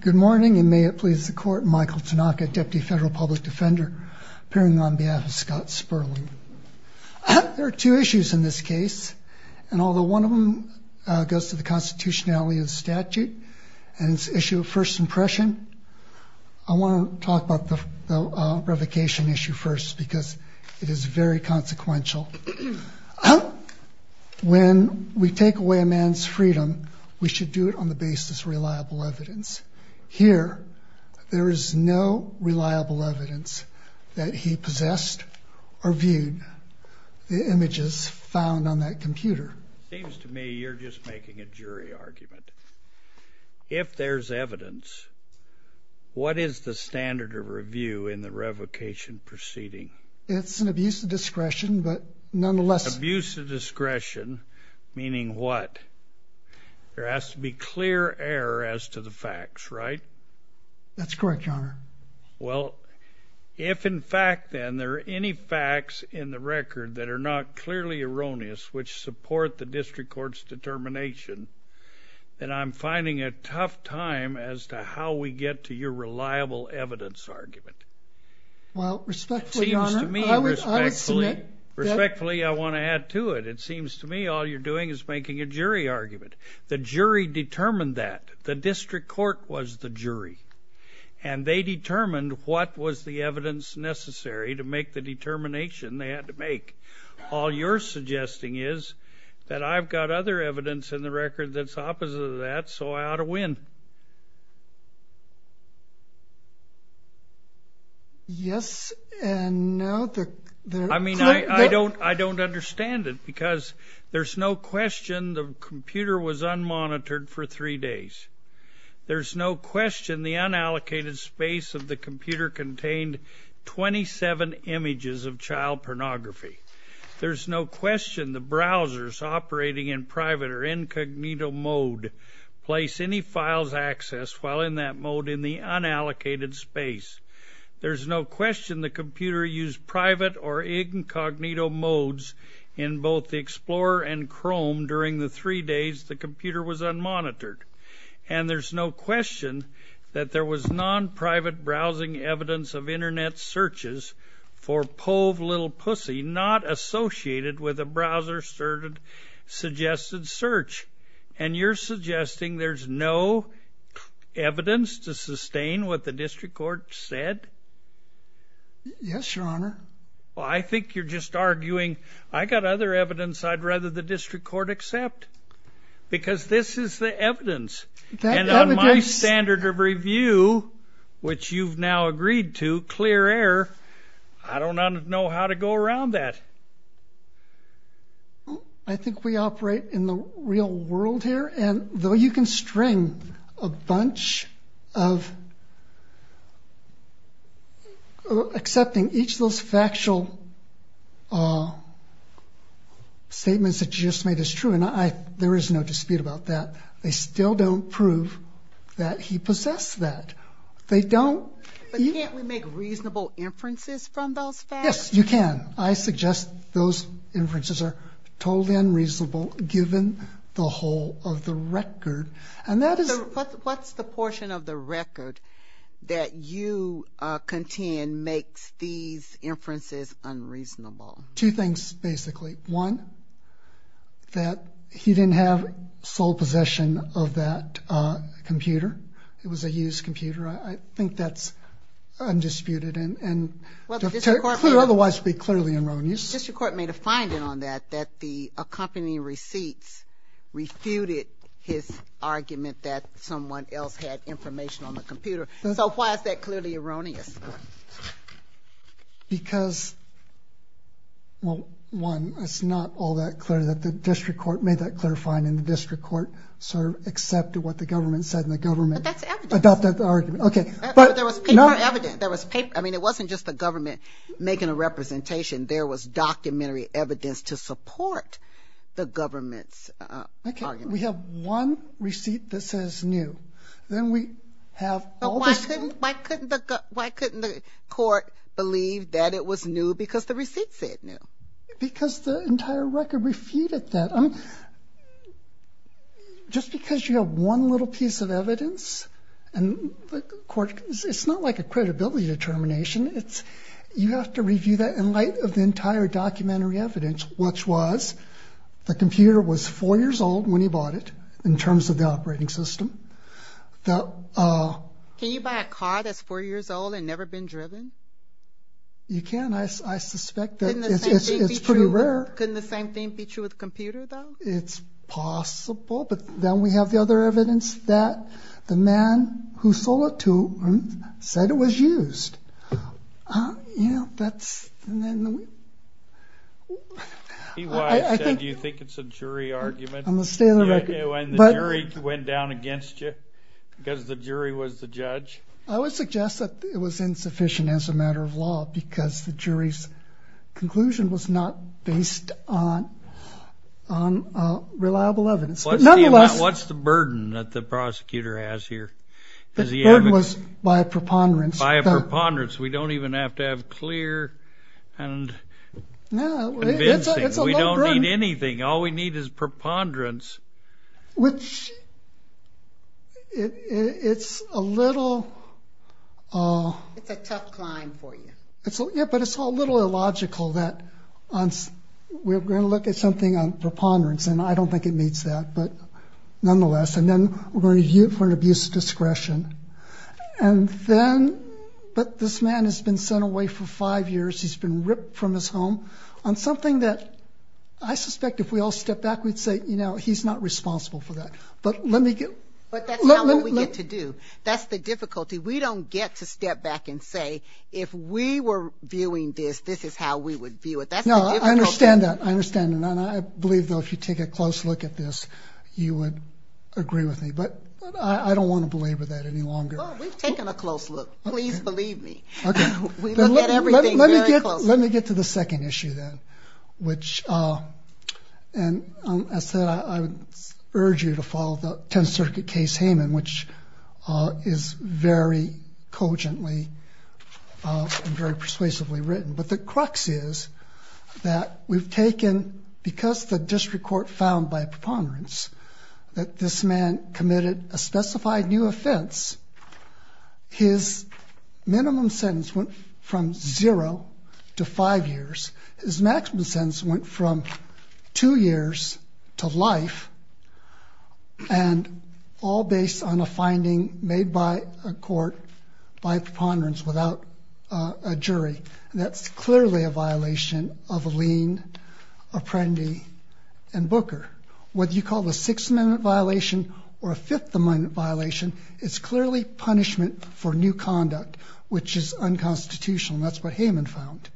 Good morning, and may it please the Court, Michael Tanaka, Deputy Federal Public Defender, appearing on behalf of Scott Sperling. There are two issues in this case, and although one of them goes to the constitutionality of the statute and is an issue of first impression, I want to talk about the revocation issue first, because it is very consequential. When we take away a man's freedom, we should do it on the basis of reliable evidence. Here, there is no reliable evidence that he possessed or viewed the images found on that computer. It seems to me you're just making a jury argument. If there's evidence, what is the standard of review in the revocation proceeding? It's an abuse of discretion, but nonetheless... Abuse of discretion, meaning what? There has to be clear error as to the facts, right? That's correct, Your Honor. Well, if in fact, then, there are any facts in the record that are not clearly erroneous, which support the district court's determination, then I'm finding a tough time as to how we get to your reliable evidence argument. Well, respectfully, Your Honor, I would submit that... Respectfully, I want to add to it. It seems to me all you're doing is making a jury argument. The jury determined that. The district court was the jury, and they determined what was the evidence necessary to make the determination they had to make. All you're suggesting is that I've got other evidence in the record that's opposite of that, so I ought to win. Yes and no. I mean, I don't understand it, because there's no question the computer was unmonitored for three days. There's no question the unallocated space of the computer contained 27 images of child pornography. There's no question the browsers operating in private or incognito mode place any files accessed while in that mode in the unallocated space. There's no question the computer used private or incognito modes in both the Explorer and Chrome during the three days the computer was unmonitored. And there's no question that there was non-private browsing evidence of Internet searches for pove little pussy not associated with a browser-suggested search. And you're suggesting there's no evidence to sustain what the district court said? Yes, Your Honor. Well, I think you're just arguing I've got other evidence I'd rather the district court accept, because this is the evidence. And on my standard of review, which you've now agreed to, clear air, I don't know how to go around that. I think we operate in the real world here, and though you can string a bunch of accepting each of those factual statements that you just made is true, and there is no dispute about that, they still don't prove that he possessed that. But can't we make reasonable inferences from those facts? Yes, you can. I suggest those inferences are totally unreasonable given the whole of the record. What's the portion of the record that you contend makes these inferences unreasonable? Two things, basically. One, that he didn't have sole possession of that computer. It was a used computer. I think that's undisputed and otherwise would be clearly erroneous. The district court made a finding on that, that the accompanying receipts refuted his argument that someone else had information on the computer. So why is that clearly erroneous? Because, well, one, it's not all that clear that the district court made that clarifying and the district court sort of accepted what the government said and the government adopted the argument. But there was paper evidence. I mean, it wasn't just the government making a representation. There was documentary evidence to support the government's argument. Okay, we have one receipt that says new. But why couldn't the court believe that it was new because the receipt said new? Because the entire record refuted that. I mean, just because you have one little piece of evidence and it's not like a credibility determination. You have to review that in light of the entire documentary evidence, which was the computer was four years old when he bought it in terms of the operating system. Can you buy a car that's four years old and never been driven? You can. I suspect that it's pretty rare. Couldn't the same thing be true with a computer, though? It's possible. But then we have the other evidence that the man who sold it to him said it was used. You know, that's... Do you think it's a jury argument when the jury went down against you because the jury was the judge? I would suggest that it was insufficient as a matter of law because the jury's conclusion was not based on reliable evidence. What's the burden that the prosecutor has here? The burden was by a preponderance. By a preponderance. We don't even have to have clear and convincing. No, it's a low burden. We don't need anything. All we need is preponderance. Which it's a little... It's a tough climb for you. Yeah, but it's a little illogical that we're going to look at something on preponderance, and I don't think it meets that, but nonetheless. And then we're going to view it for an abuse of discretion. And then... But this man has been sent away for five years. He's been ripped from his home on something that I suspect if we all stepped back, we'd say, you know, he's not responsible for that. But let me get... But that's not what we get to do. That's the difficulty. We don't get to step back and say, if we were viewing this, this is how we would view it. That's the difficulty. No, I understand that. I understand that. And I believe, though, if you take a close look at this, you would agree with me. But I don't want to belabor that any longer. Well, we've taken a close look. Please believe me. Okay. We look at everything very closely. Let me get to the second issue, then, which... And as I said, I would urge you to follow the Tenth Circuit case, Hayman, which is very cogently and very persuasively written. But the crux is that we've taken... Because the district court found by preponderance that this man committed a specified new offense, his minimum sentence went from zero to five years. His maximum sentence went from two years to life, and all based on a finding made by a court by preponderance without a jury. And that's clearly a violation of Alene, Apprendi, and Booker. Whether you call it a Sixth Amendment violation or a Fifth Amendment violation, it's clearly punishment for new conduct, which is unconstitutional. And that's what Hayman found.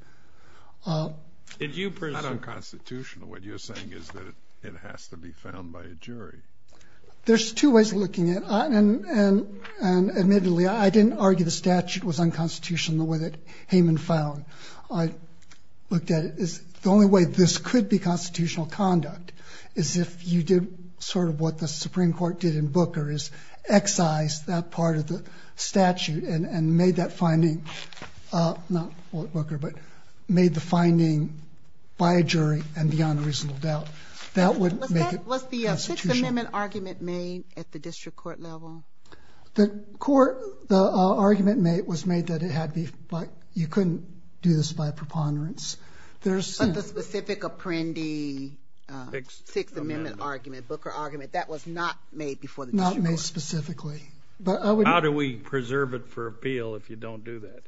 It's not unconstitutional. What you're saying is that it has to be found by a jury. There's two ways of looking at it. And admittedly, I didn't argue the statute was unconstitutional. The way that Hayman found, I looked at it as the only way this could be constitutional conduct is if you did sort of what the Supreme Court did in Booker, is excise that part of the statute and made that finding, not Booker, but made the finding by a jury and beyond a reasonable doubt. That would make it unconstitutional. Was the Sixth Amendment argument made at the district court level? The argument was made that you couldn't do this by preponderance. But the specific Apprendi Sixth Amendment argument, Booker argument, that was not made before the district court. Not made specifically. How do we preserve it for appeal if you don't do that?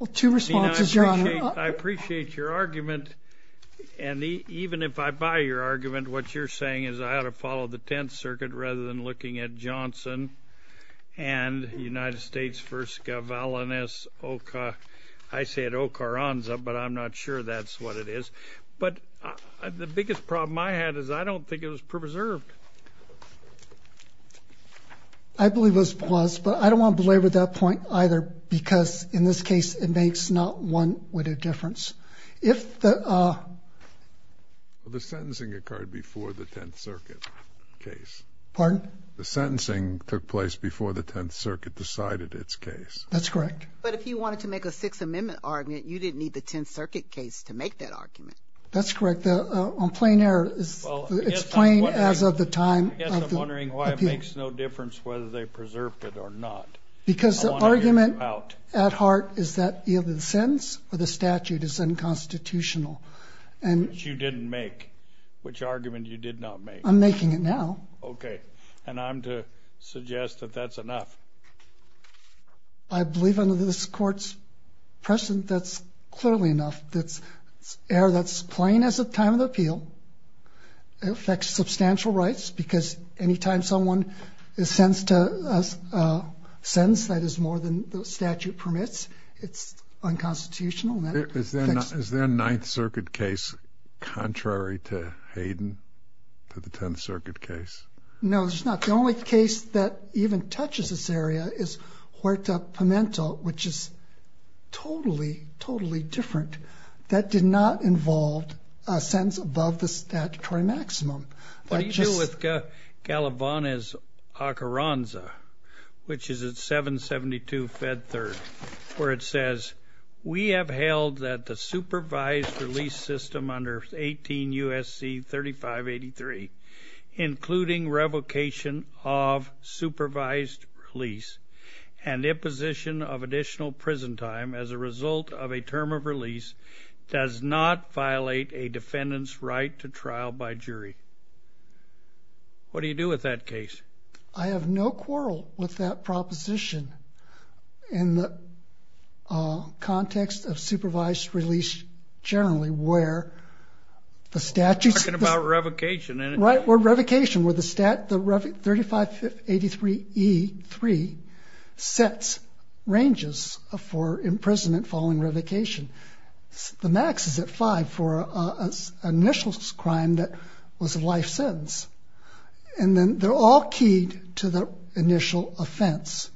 I appreciate your argument. And even if I buy your argument, what you're saying is I ought to follow the Tenth Circuit rather than looking at Johnson and United States v. Gavalinis. I say it Ocaranza, but I'm not sure that's what it is. But the biggest problem I had is I don't think it was preserved. I believe it was preserved, but I don't want to belabor that point either because in this case it makes not one little difference. The sentencing occurred before the Tenth Circuit case. Pardon? The sentencing took place before the Tenth Circuit decided its case. That's correct. But if you wanted to make a Sixth Amendment argument, you didn't need the Tenth Circuit case to make that argument. That's correct. On plain error, it's plain as of the time of the appeal. I guess I'm wondering why it makes no difference whether they preserved it or not. Because the argument at heart is that either the sentence or the statute is unconstitutional. Which you didn't make. Which argument you did not make. I'm making it now. Okay. And I'm to suggest that that's enough. I believe under this Court's precedent that's clearly enough. It's error that's plain as of the time of the appeal. It affects substantial rights because anytime someone is sentenced to a sentence that is more than the statute permits, it's unconstitutional. Is there a Ninth Circuit case contrary to Hayden, to the Tenth Circuit case? No, there's not. The only case that even touches this area is Huerta Pimentel, which is totally, totally different. That did not involve a sentence above the statutory maximum. What do you do with Galavanes-Ocoranza, which is at 772-Fed 3rd, where it says, We have held that the supervised release system under 18 U.S.C. 3583, including revocation of supervised release and imposition of additional prison time as a result of a term of release, does not violate a defendant's right to trial by jury. What do you do with that case? I have no quarrel with that proposition in the context of supervised release generally, Talking about revocation. Right, where revocation, where the 3583E3 sets ranges for imprisonment following revocation. The max is at five for an initial crime that was a life sentence. And then they're all keyed to the initial offense.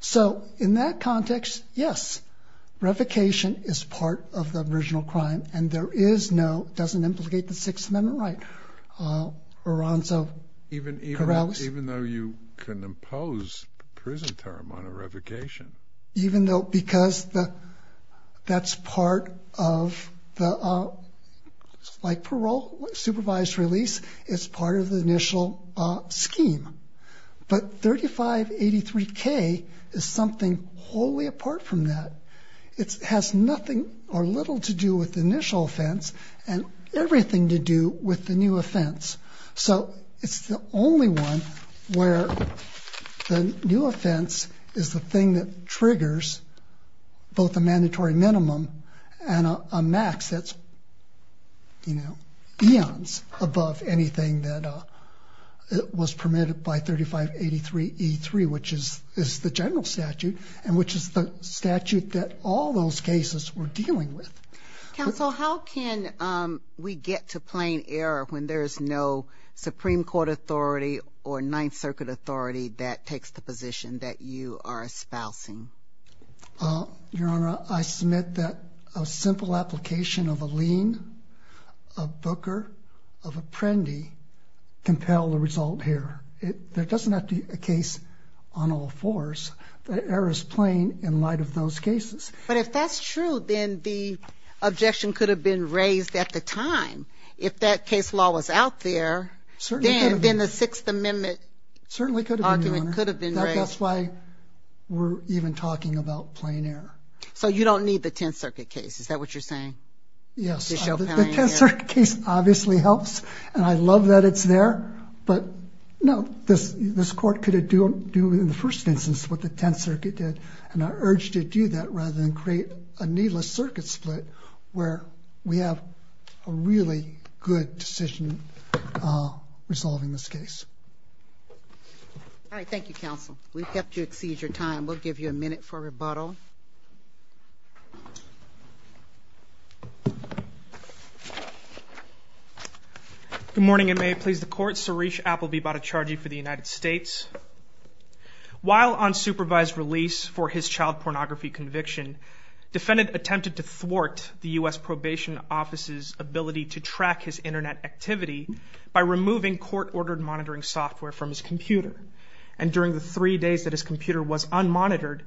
So in that context, yes, revocation is part of the original crime, and there is no, doesn't implicate the Sixth Amendment right. Even though you can impose prison term on a revocation. Even though, because that's part of the, like parole, supervised release, it's part of the initial scheme. But 3583K is something wholly apart from that. It has nothing or little to do with the initial offense, and everything to do with the new offense. So it's the only one where the new offense is the thing that triggers both a mandatory minimum and a max that's eons above anything that was permitted by 3583E3, which is the general statute, and which is the statute that all those cases were dealing with. Counsel, how can we get to plain error when there is no Supreme Court authority or Ninth Circuit authority that takes the position that you are espousing? Your Honor, I submit that a simple application of a lien, of Booker, of Apprendi, compel the result here. There doesn't have to be a case on all fours. The error is plain in light of those cases. But if that's true, then the objection could have been raised at the time. If that case law was out there, then the Sixth Amendment argument could have been raised. That's why we're even talking about plain error. So you don't need the Tenth Circuit case, is that what you're saying? Yes. The Tenth Circuit case obviously helps, and I love that it's there. But, no, this Court could have done in the first instance what the Tenth Circuit did, and I urge to do that rather than create a needless circuit split where we have a really good decision resolving this case. All right. Thank you, Counsel. We've helped you exceed your time. We'll give you a minute for rebuttal. Good morning, and may it please the Court. Suresh Appelbe about to charge you for the United States. While on supervised release for his child pornography conviction, defendant attempted to thwart the U.S. Probation Office's ability to track his Internet activity by removing court-ordered monitoring software from his computer. And during the three days that his computer was unmonitored,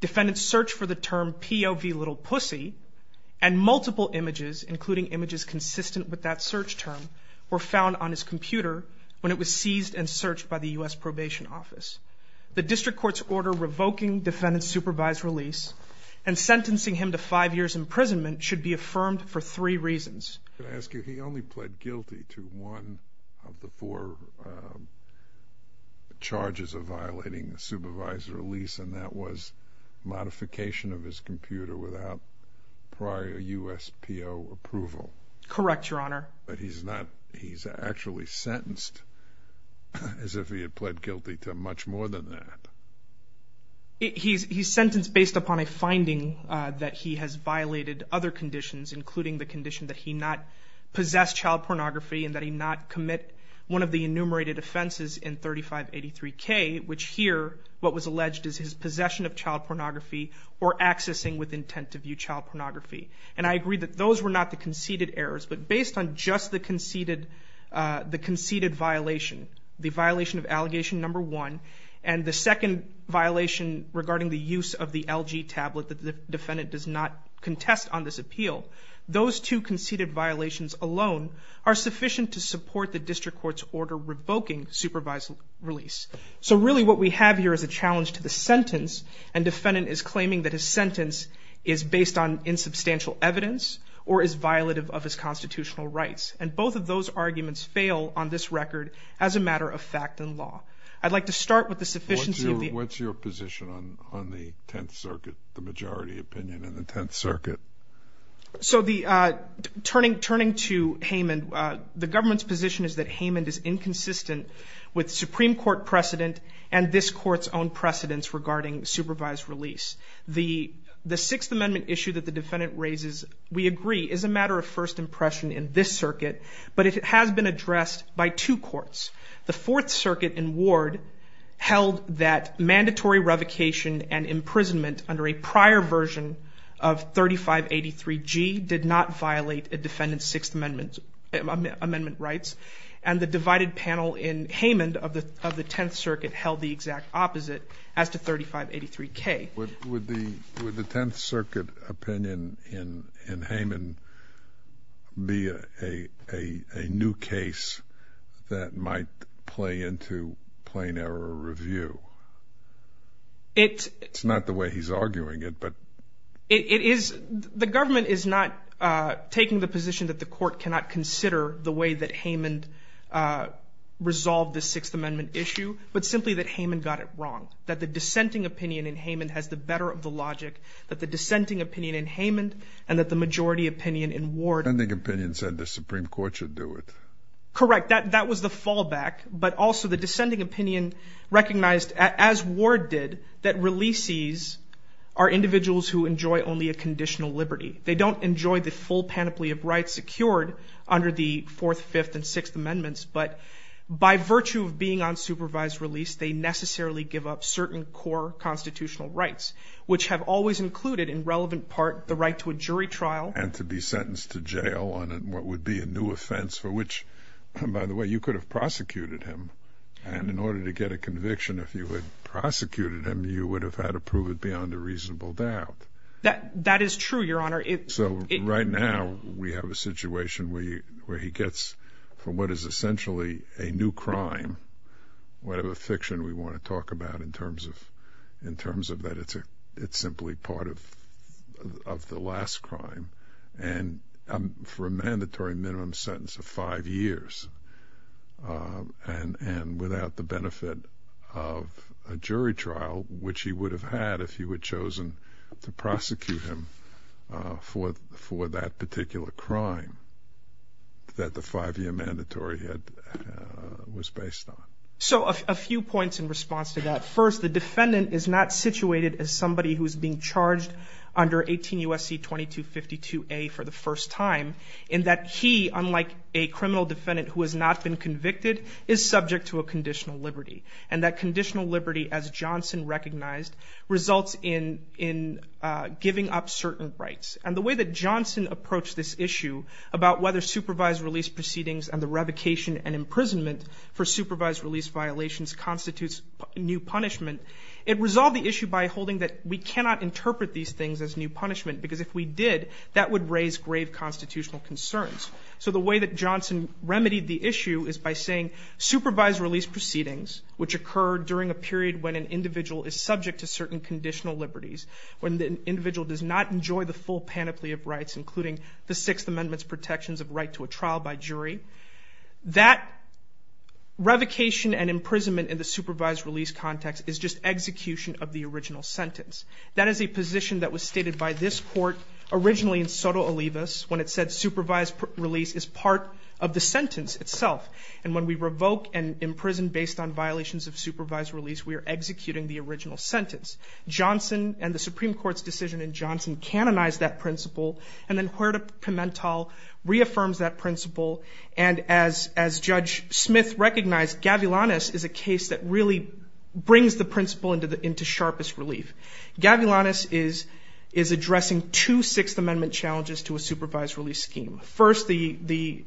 defendants' search for the term POV little pussy and multiple images, including images consistent with that search term, were found on his computer when it was seized and searched by the U.S. Probation Office. The district court's order revoking defendant's supervised release and sentencing him to five years' imprisonment should be affirmed for three reasons. Can I ask you, he only pled guilty to one of the four charges of violating a supervised release, and that was modification of his computer without prior USPO approval. Correct, Your Honor. But he's not, he's actually sentenced as if he had pled guilty to much more than that. He's sentenced based upon a finding that he has violated other conditions, including the condition that he not possess child pornography and that he not commit one of the enumerated offenses in 3583K, which here what was alleged is his possession of child pornography or accessing with intent to view child pornography. And I agree that those were not the conceded errors, but based on just the conceded violation, the violation of allegation number one, and the second violation regarding the use of the LG tablet that the defendant does not contest on this appeal, those two conceded violations alone are sufficient to support the district court's order revoking supervised release. So really what we have here is a challenge to the sentence, and defendant is claiming that his sentence is based on insubstantial evidence or is violative of his constitutional rights. And both of those arguments fail on this record as a matter of fact and law. I'd like to start with the sufficiency of the... opinion in the Tenth Circuit. So turning to Haymond, the government's position is that Haymond is inconsistent with Supreme Court precedent and this court's own precedence regarding supervised release. The Sixth Amendment issue that the defendant raises, we agree, is a matter of first impression in this circuit, but it has been addressed by two courts. The Fourth Circuit in Ward held that mandatory revocation and imprisonment under a prior version of 3583G did not violate a defendant's Sixth Amendment rights, and the divided panel in Haymond of the Tenth Circuit held the exact opposite as to 3583K. Would the Tenth Circuit opinion in Haymond be a new case that might play into plain error review? It... It's not the way he's arguing it, but... It is... the government is not taking the position that the court cannot consider the way that Haymond resolved the Sixth Amendment issue, but simply that Haymond got it wrong, that the dissenting opinion in Haymond has the better of the logic, that the dissenting opinion in Haymond and that the majority opinion in Ward... The dissenting opinion said the Supreme Court should do it. Correct, that was the fallback, but also the dissenting opinion recognized, as Ward did, that releasees are individuals who enjoy only a conditional liberty. They don't enjoy the full panoply of rights secured under the Fourth, Fifth, and Sixth Amendments, but by virtue of being on supervised release, they necessarily give up certain core constitutional rights, which have always included, in relevant part, the right to a jury trial... Which, by the way, you could have prosecuted him, and in order to get a conviction, if you had prosecuted him, you would have had to prove it beyond a reasonable doubt. That is true, Your Honor. So, right now, we have a situation where he gets from what is essentially a new crime, whatever fiction we want to talk about in terms of that it's simply part of the last crime, and for a mandatory minimum sentence of five years, and without the benefit of a jury trial, which he would have had if he had chosen to prosecute him for that particular crime that the five-year mandatory was based on. So, a few points in response to that. First, the defendant is not situated as somebody who is being charged under 18 U.S.C. 2252A for the first time, in that he, unlike a criminal defendant who has not been convicted, is subject to a conditional liberty, and that conditional liberty, as Johnson recognized, results in giving up certain rights. And the way that Johnson approached this issue about whether supervised release proceedings and the revocation and imprisonment for supervised release violations constitutes new punishment, it resolved the issue by holding that we cannot interpret these things as new punishment, because if we did, that would raise grave constitutional concerns. So the way that Johnson remedied the issue is by saying supervised release proceedings, which occur during a period when an individual is subject to certain conditional liberties, when the individual does not enjoy the full panoply of rights, including the Sixth Amendment's protections of right to a trial by jury, that revocation and imprisonment in the supervised release context is just execution of the original sentence. That is a position that was stated by this court originally in Soto Olivas, when it said supervised release is part of the sentence itself, and when we revoke and imprison based on violations of supervised release, we are executing the original sentence. Johnson and the Supreme Court's decision in Johnson canonized that principle, and then Huerta-Pimentel reaffirms that principle, and as Judge Smith recognized, Gavilanes is a case that really brings the principle into sharpest relief. Gavilanes is addressing two Sixth Amendment challenges to a supervised release scheme. First, the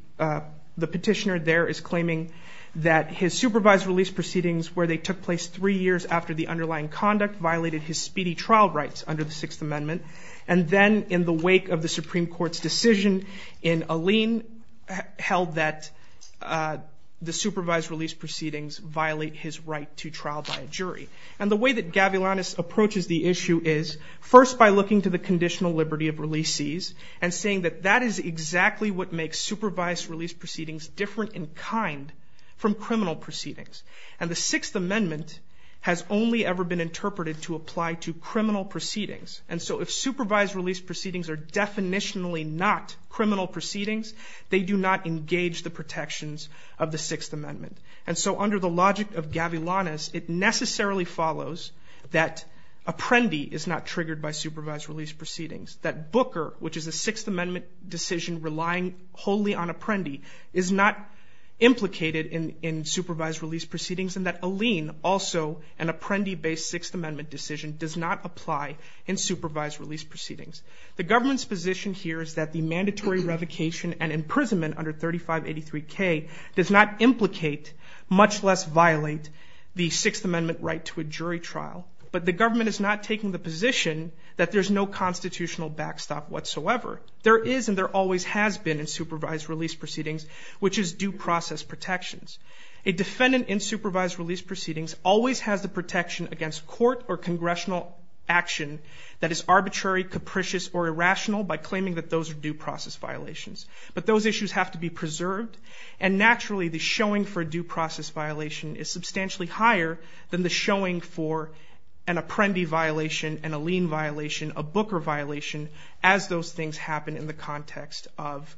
petitioner there is claiming that his supervised release proceedings, where they took place three years after the underlying conduct, violated his speedy trial rights under the Sixth Amendment, and then in the wake of the Supreme Court's decision in Alleyne, held that the supervised release proceedings violate his right to trial by a jury. And the way that Gavilanes approaches the issue is, first by looking to the conditional liberty of releasees, and saying that that is exactly what makes supervised release proceedings different in kind from criminal proceedings. And the Sixth Amendment has only ever been interpreted to apply to criminal proceedings, and so if supervised release proceedings are definitionally not criminal proceedings, they do not engage the protections of the Sixth Amendment. And so under the logic of Gavilanes, it necessarily follows that Apprendi is not triggered by supervised release proceedings, that Booker, which is a Sixth Amendment decision relying wholly on Apprendi, is not implicated in supervised release proceedings, and that Alleyne, also an Apprendi-based Sixth Amendment decision, does not apply in supervised release proceedings. The government's position here is that the mandatory revocation and imprisonment under 3583K does not implicate, much less violate, the Sixth Amendment right to a jury trial. But the government is not taking the position that there's no constitutional backstop whatsoever. There is and there always has been in supervised release proceedings, which is due process protections. A defendant in supervised release proceedings always has the protection against court or congressional action that is arbitrary, capricious, or irrational by claiming that those are due process violations. But those issues have to be preserved, and naturally the showing for a due process violation is substantially higher than the showing for an Apprendi violation, an Alleyne violation, a Booker violation, as those things happen in the context of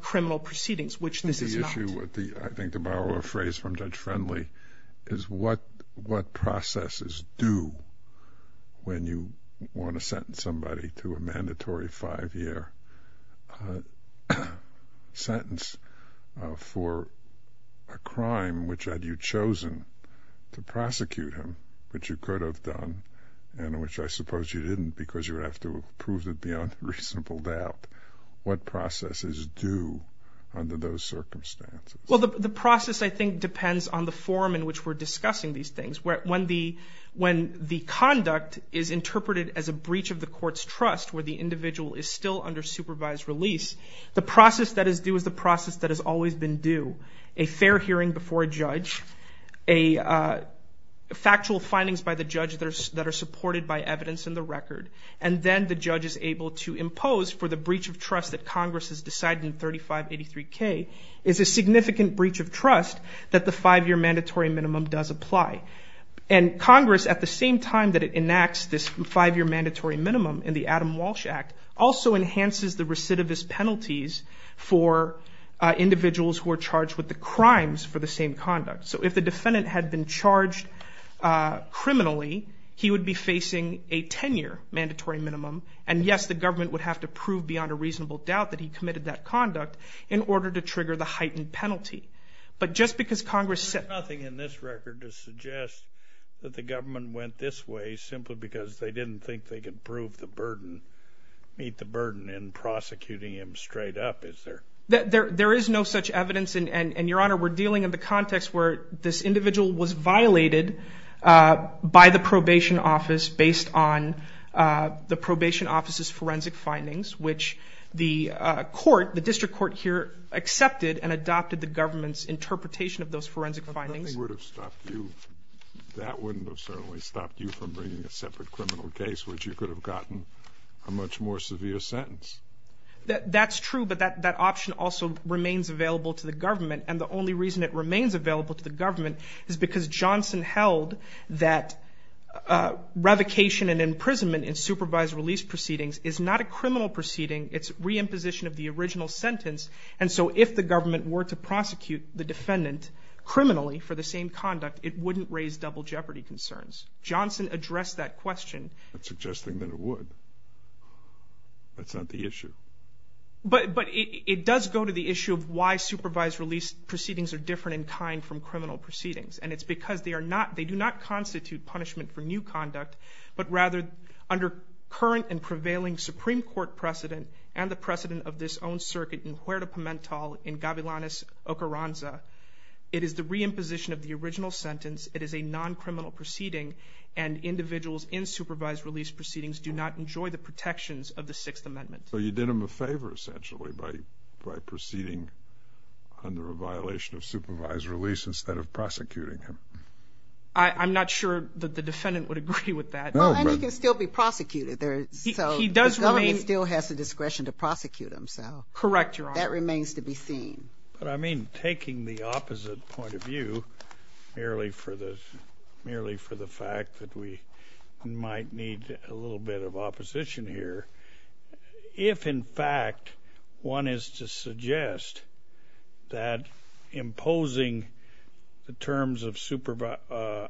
criminal proceedings, which this is not. I think to borrow a phrase from Judge Friendly is what processes do when you want to sentence somebody to a mandatory five-year sentence for a crime which had you chosen to prosecute him, which you could have done and which I suppose you didn't because you would have to prove it beyond reasonable doubt. What processes do under those circumstances? Well, the process I think depends on the form in which we're discussing these things. When the conduct is interpreted as a breach of the court's trust where the individual is still under supervised release, the process that is due is the process that has always been due. A fair hearing before a judge, factual findings by the judge that are supported by evidence in the record, and then the judge is able to impose for the breach of trust that Congress has decided in 3583K is a significant breach of trust that the five-year mandatory minimum does apply. And Congress, at the same time that it enacts this five-year mandatory minimum in the Adam Walsh Act, also enhances the recidivist penalties for individuals who are charged with the crimes for the same conduct. So if the defendant had been charged criminally, he would be facing a 10-year mandatory minimum, and yes, the government would have to prove beyond a reasonable doubt that he committed that conduct in order to trigger the heightened penalty. But just because Congress said— There's nothing in this record to suggest that the government went this way simply because they didn't think they could prove the burden, meet the burden in prosecuting him straight up, is there? There is no such evidence. And, Your Honor, we're dealing in the context where this individual was violated by the probation office based on the probation office's forensic findings, which the court, the district court here, accepted and adopted the government's interpretation of those forensic findings. But that thing would have stopped you. That wouldn't have certainly stopped you from bringing a separate criminal case, which you could have gotten a much more severe sentence. That's true, but that option also remains available to the government, and the only reason it remains available to the government is because Johnson held that revocation and imprisonment in supervised release proceedings is not a criminal proceeding. It's reimposition of the original sentence, and so if the government were to prosecute the defendant criminally for the same conduct, it wouldn't raise double jeopardy concerns. Johnson addressed that question. That's suggesting that it would. That's not the issue. But it does go to the issue of why supervised release proceedings are different in kind from criminal proceedings, and it's because they do not constitute punishment for new conduct, but rather under current and prevailing Supreme Court precedent and the precedent of this own circuit in Huerta Pimental in Gavilanes, Ocarranza, it is the reimposition of the original sentence, it is a non-criminal proceeding, and individuals in supervised release proceedings do not enjoy the protections of the Sixth Amendment. So you did him a favor, essentially, by proceeding under a violation of supervised release instead of prosecuting him. I'm not sure that the defendant would agree with that. Well, and he can still be prosecuted, so the government still has the discretion to prosecute him. Correct, Your Honor. That remains to be seen. But I mean taking the opposite point of view, merely for the fact that we might need a little bit of opposition here, if, in fact, one is to suggest that imposing the terms of a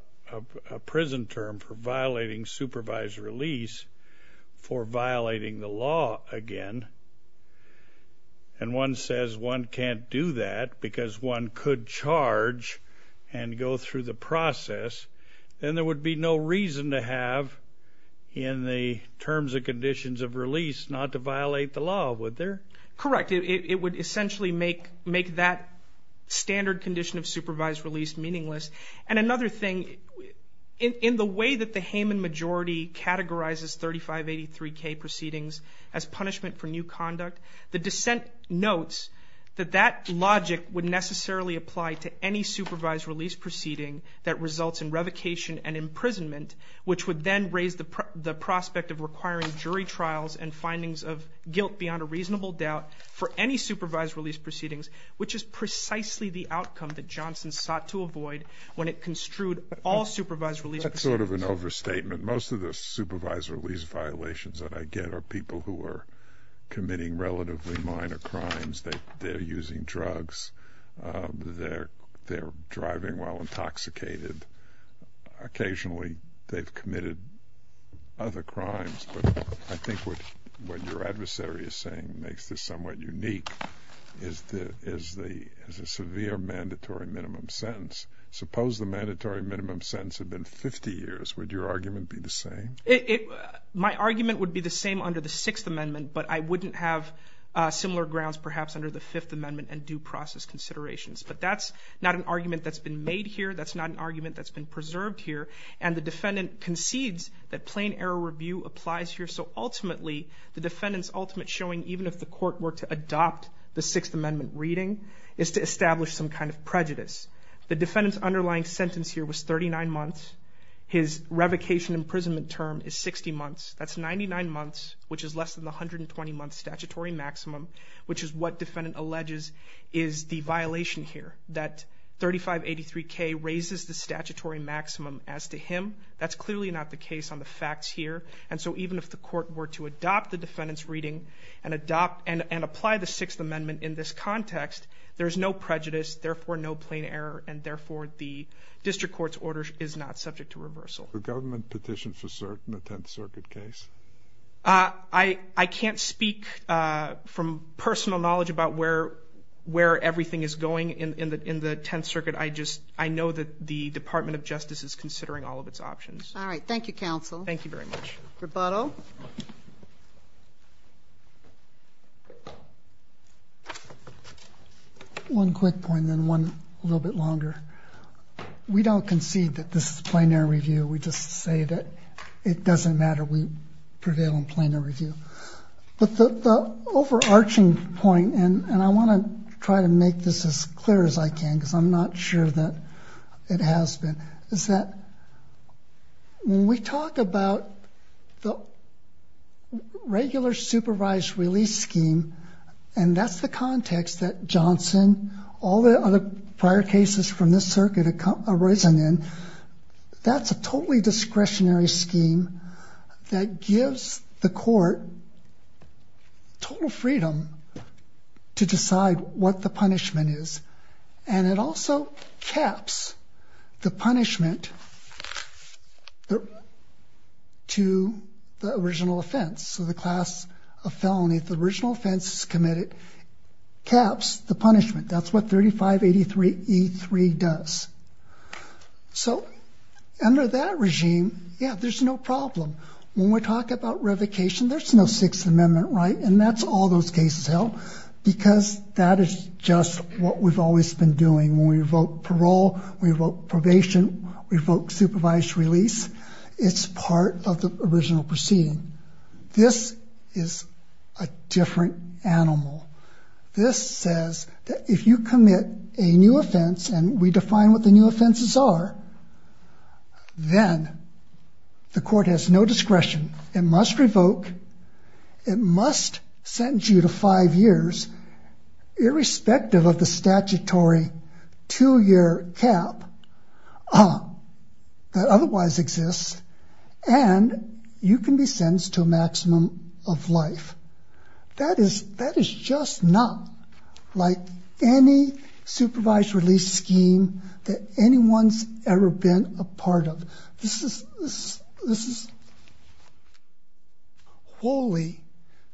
prison term for violating supervised release for violating the law again, and one says one can't do that because one could charge and go through the process, then there would be no reason to have in the terms and conditions of release not to violate the law, would there? Correct. It would essentially make that standard condition of supervised release meaningless. And another thing, in the way that the Hayman majority categorizes 3583K proceedings as punishment for new conduct, the dissent notes that that logic would necessarily apply to any supervised release proceeding that results in revocation and imprisonment, which would then raise the prospect of requiring jury trials and findings of guilt beyond a reasonable doubt for any supervised release proceedings, which is precisely the outcome that Johnson sought to avoid when it construed all supervised release proceedings. That's sort of an overstatement. Most of the supervised release violations that I get are people who are committing relatively minor crimes. They're using drugs. They're driving while intoxicated. Occasionally, they've committed other crimes. I think what your adversary is saying makes this somewhat unique, is a severe mandatory minimum sentence. Suppose the mandatory minimum sentence had been 50 years. Would your argument be the same? My argument would be the same under the Sixth Amendment, but I wouldn't have similar grounds perhaps under the Fifth Amendment and due process considerations. But that's not an argument that's been made here. That's not an argument that's been preserved here. And the defendant concedes that plain error review applies here, so ultimately the defendant's ultimate showing, even if the court were to adopt the Sixth Amendment reading, is to establish some kind of prejudice. The defendant's underlying sentence here was 39 months. His revocation imprisonment term is 60 months. That's 99 months, which is less than 120 months statutory maximum, which is what defendant alleges is the violation here, that 3583K raises the statutory maximum as to him. That's clearly not the case on the facts here. And so even if the court were to adopt the defendant's reading and apply the Sixth Amendment in this context, there's no prejudice, therefore no plain error, and therefore the district court's order is not subject to reversal. The government petitioned for cert in the Tenth Circuit case. I can't speak from personal knowledge about where everything is going in the Tenth Circuit. I just know that the Department of Justice is considering all of its options. All right. Thank you, counsel. Thank you very much. Rebuttal. One quick point and then one a little bit longer. We don't concede that this is plain error review. We just say that it doesn't matter. We prevail on plain error review. But the overarching point, and I want to try to make this as clear as I can, because I'm not sure that it has been, is that when we talk about the regular supervised release scheme, and that's the context that Johnson, all the other prior cases from this circuit, that's a totally discretionary scheme that gives the court total freedom to decide what the punishment is. And it also caps the punishment to the original offense. So the class of felony, the original offense is committed, caps the punishment. That's what 3583E3 does. So under that regime, yeah, there's no problem. When we talk about revocation, there's no Sixth Amendment right, and that's all those cases held, because that is just what we've always been doing. When we revoke parole, we revoke probation, we revoke supervised release, it's part of the original proceeding. This is a different animal. This says that if you commit a new offense, and we define what the new offenses are, then the court has no discretion. It must revoke, it must sentence you to five years, irrespective of the statutory two-year cap that otherwise exists, and you can be sentenced to a maximum of life. That is just not like any supervised release scheme that anyone's ever been a part of. This is wholly,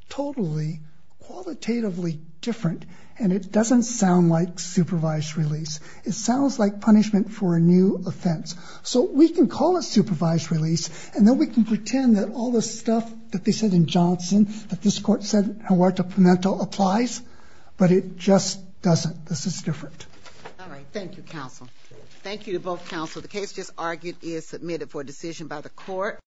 totally, qualitatively different, and it doesn't sound like supervised release. It sounds like punishment for a new offense. So we can call it supervised release, and then we can pretend that all the stuff that they said in Johnson, that this court said in Huerta Pimentel applies, but it just doesn't. This is different. All right, thank you, counsel. Thank you to both counsel. The case just argued is submitted for decision by the court.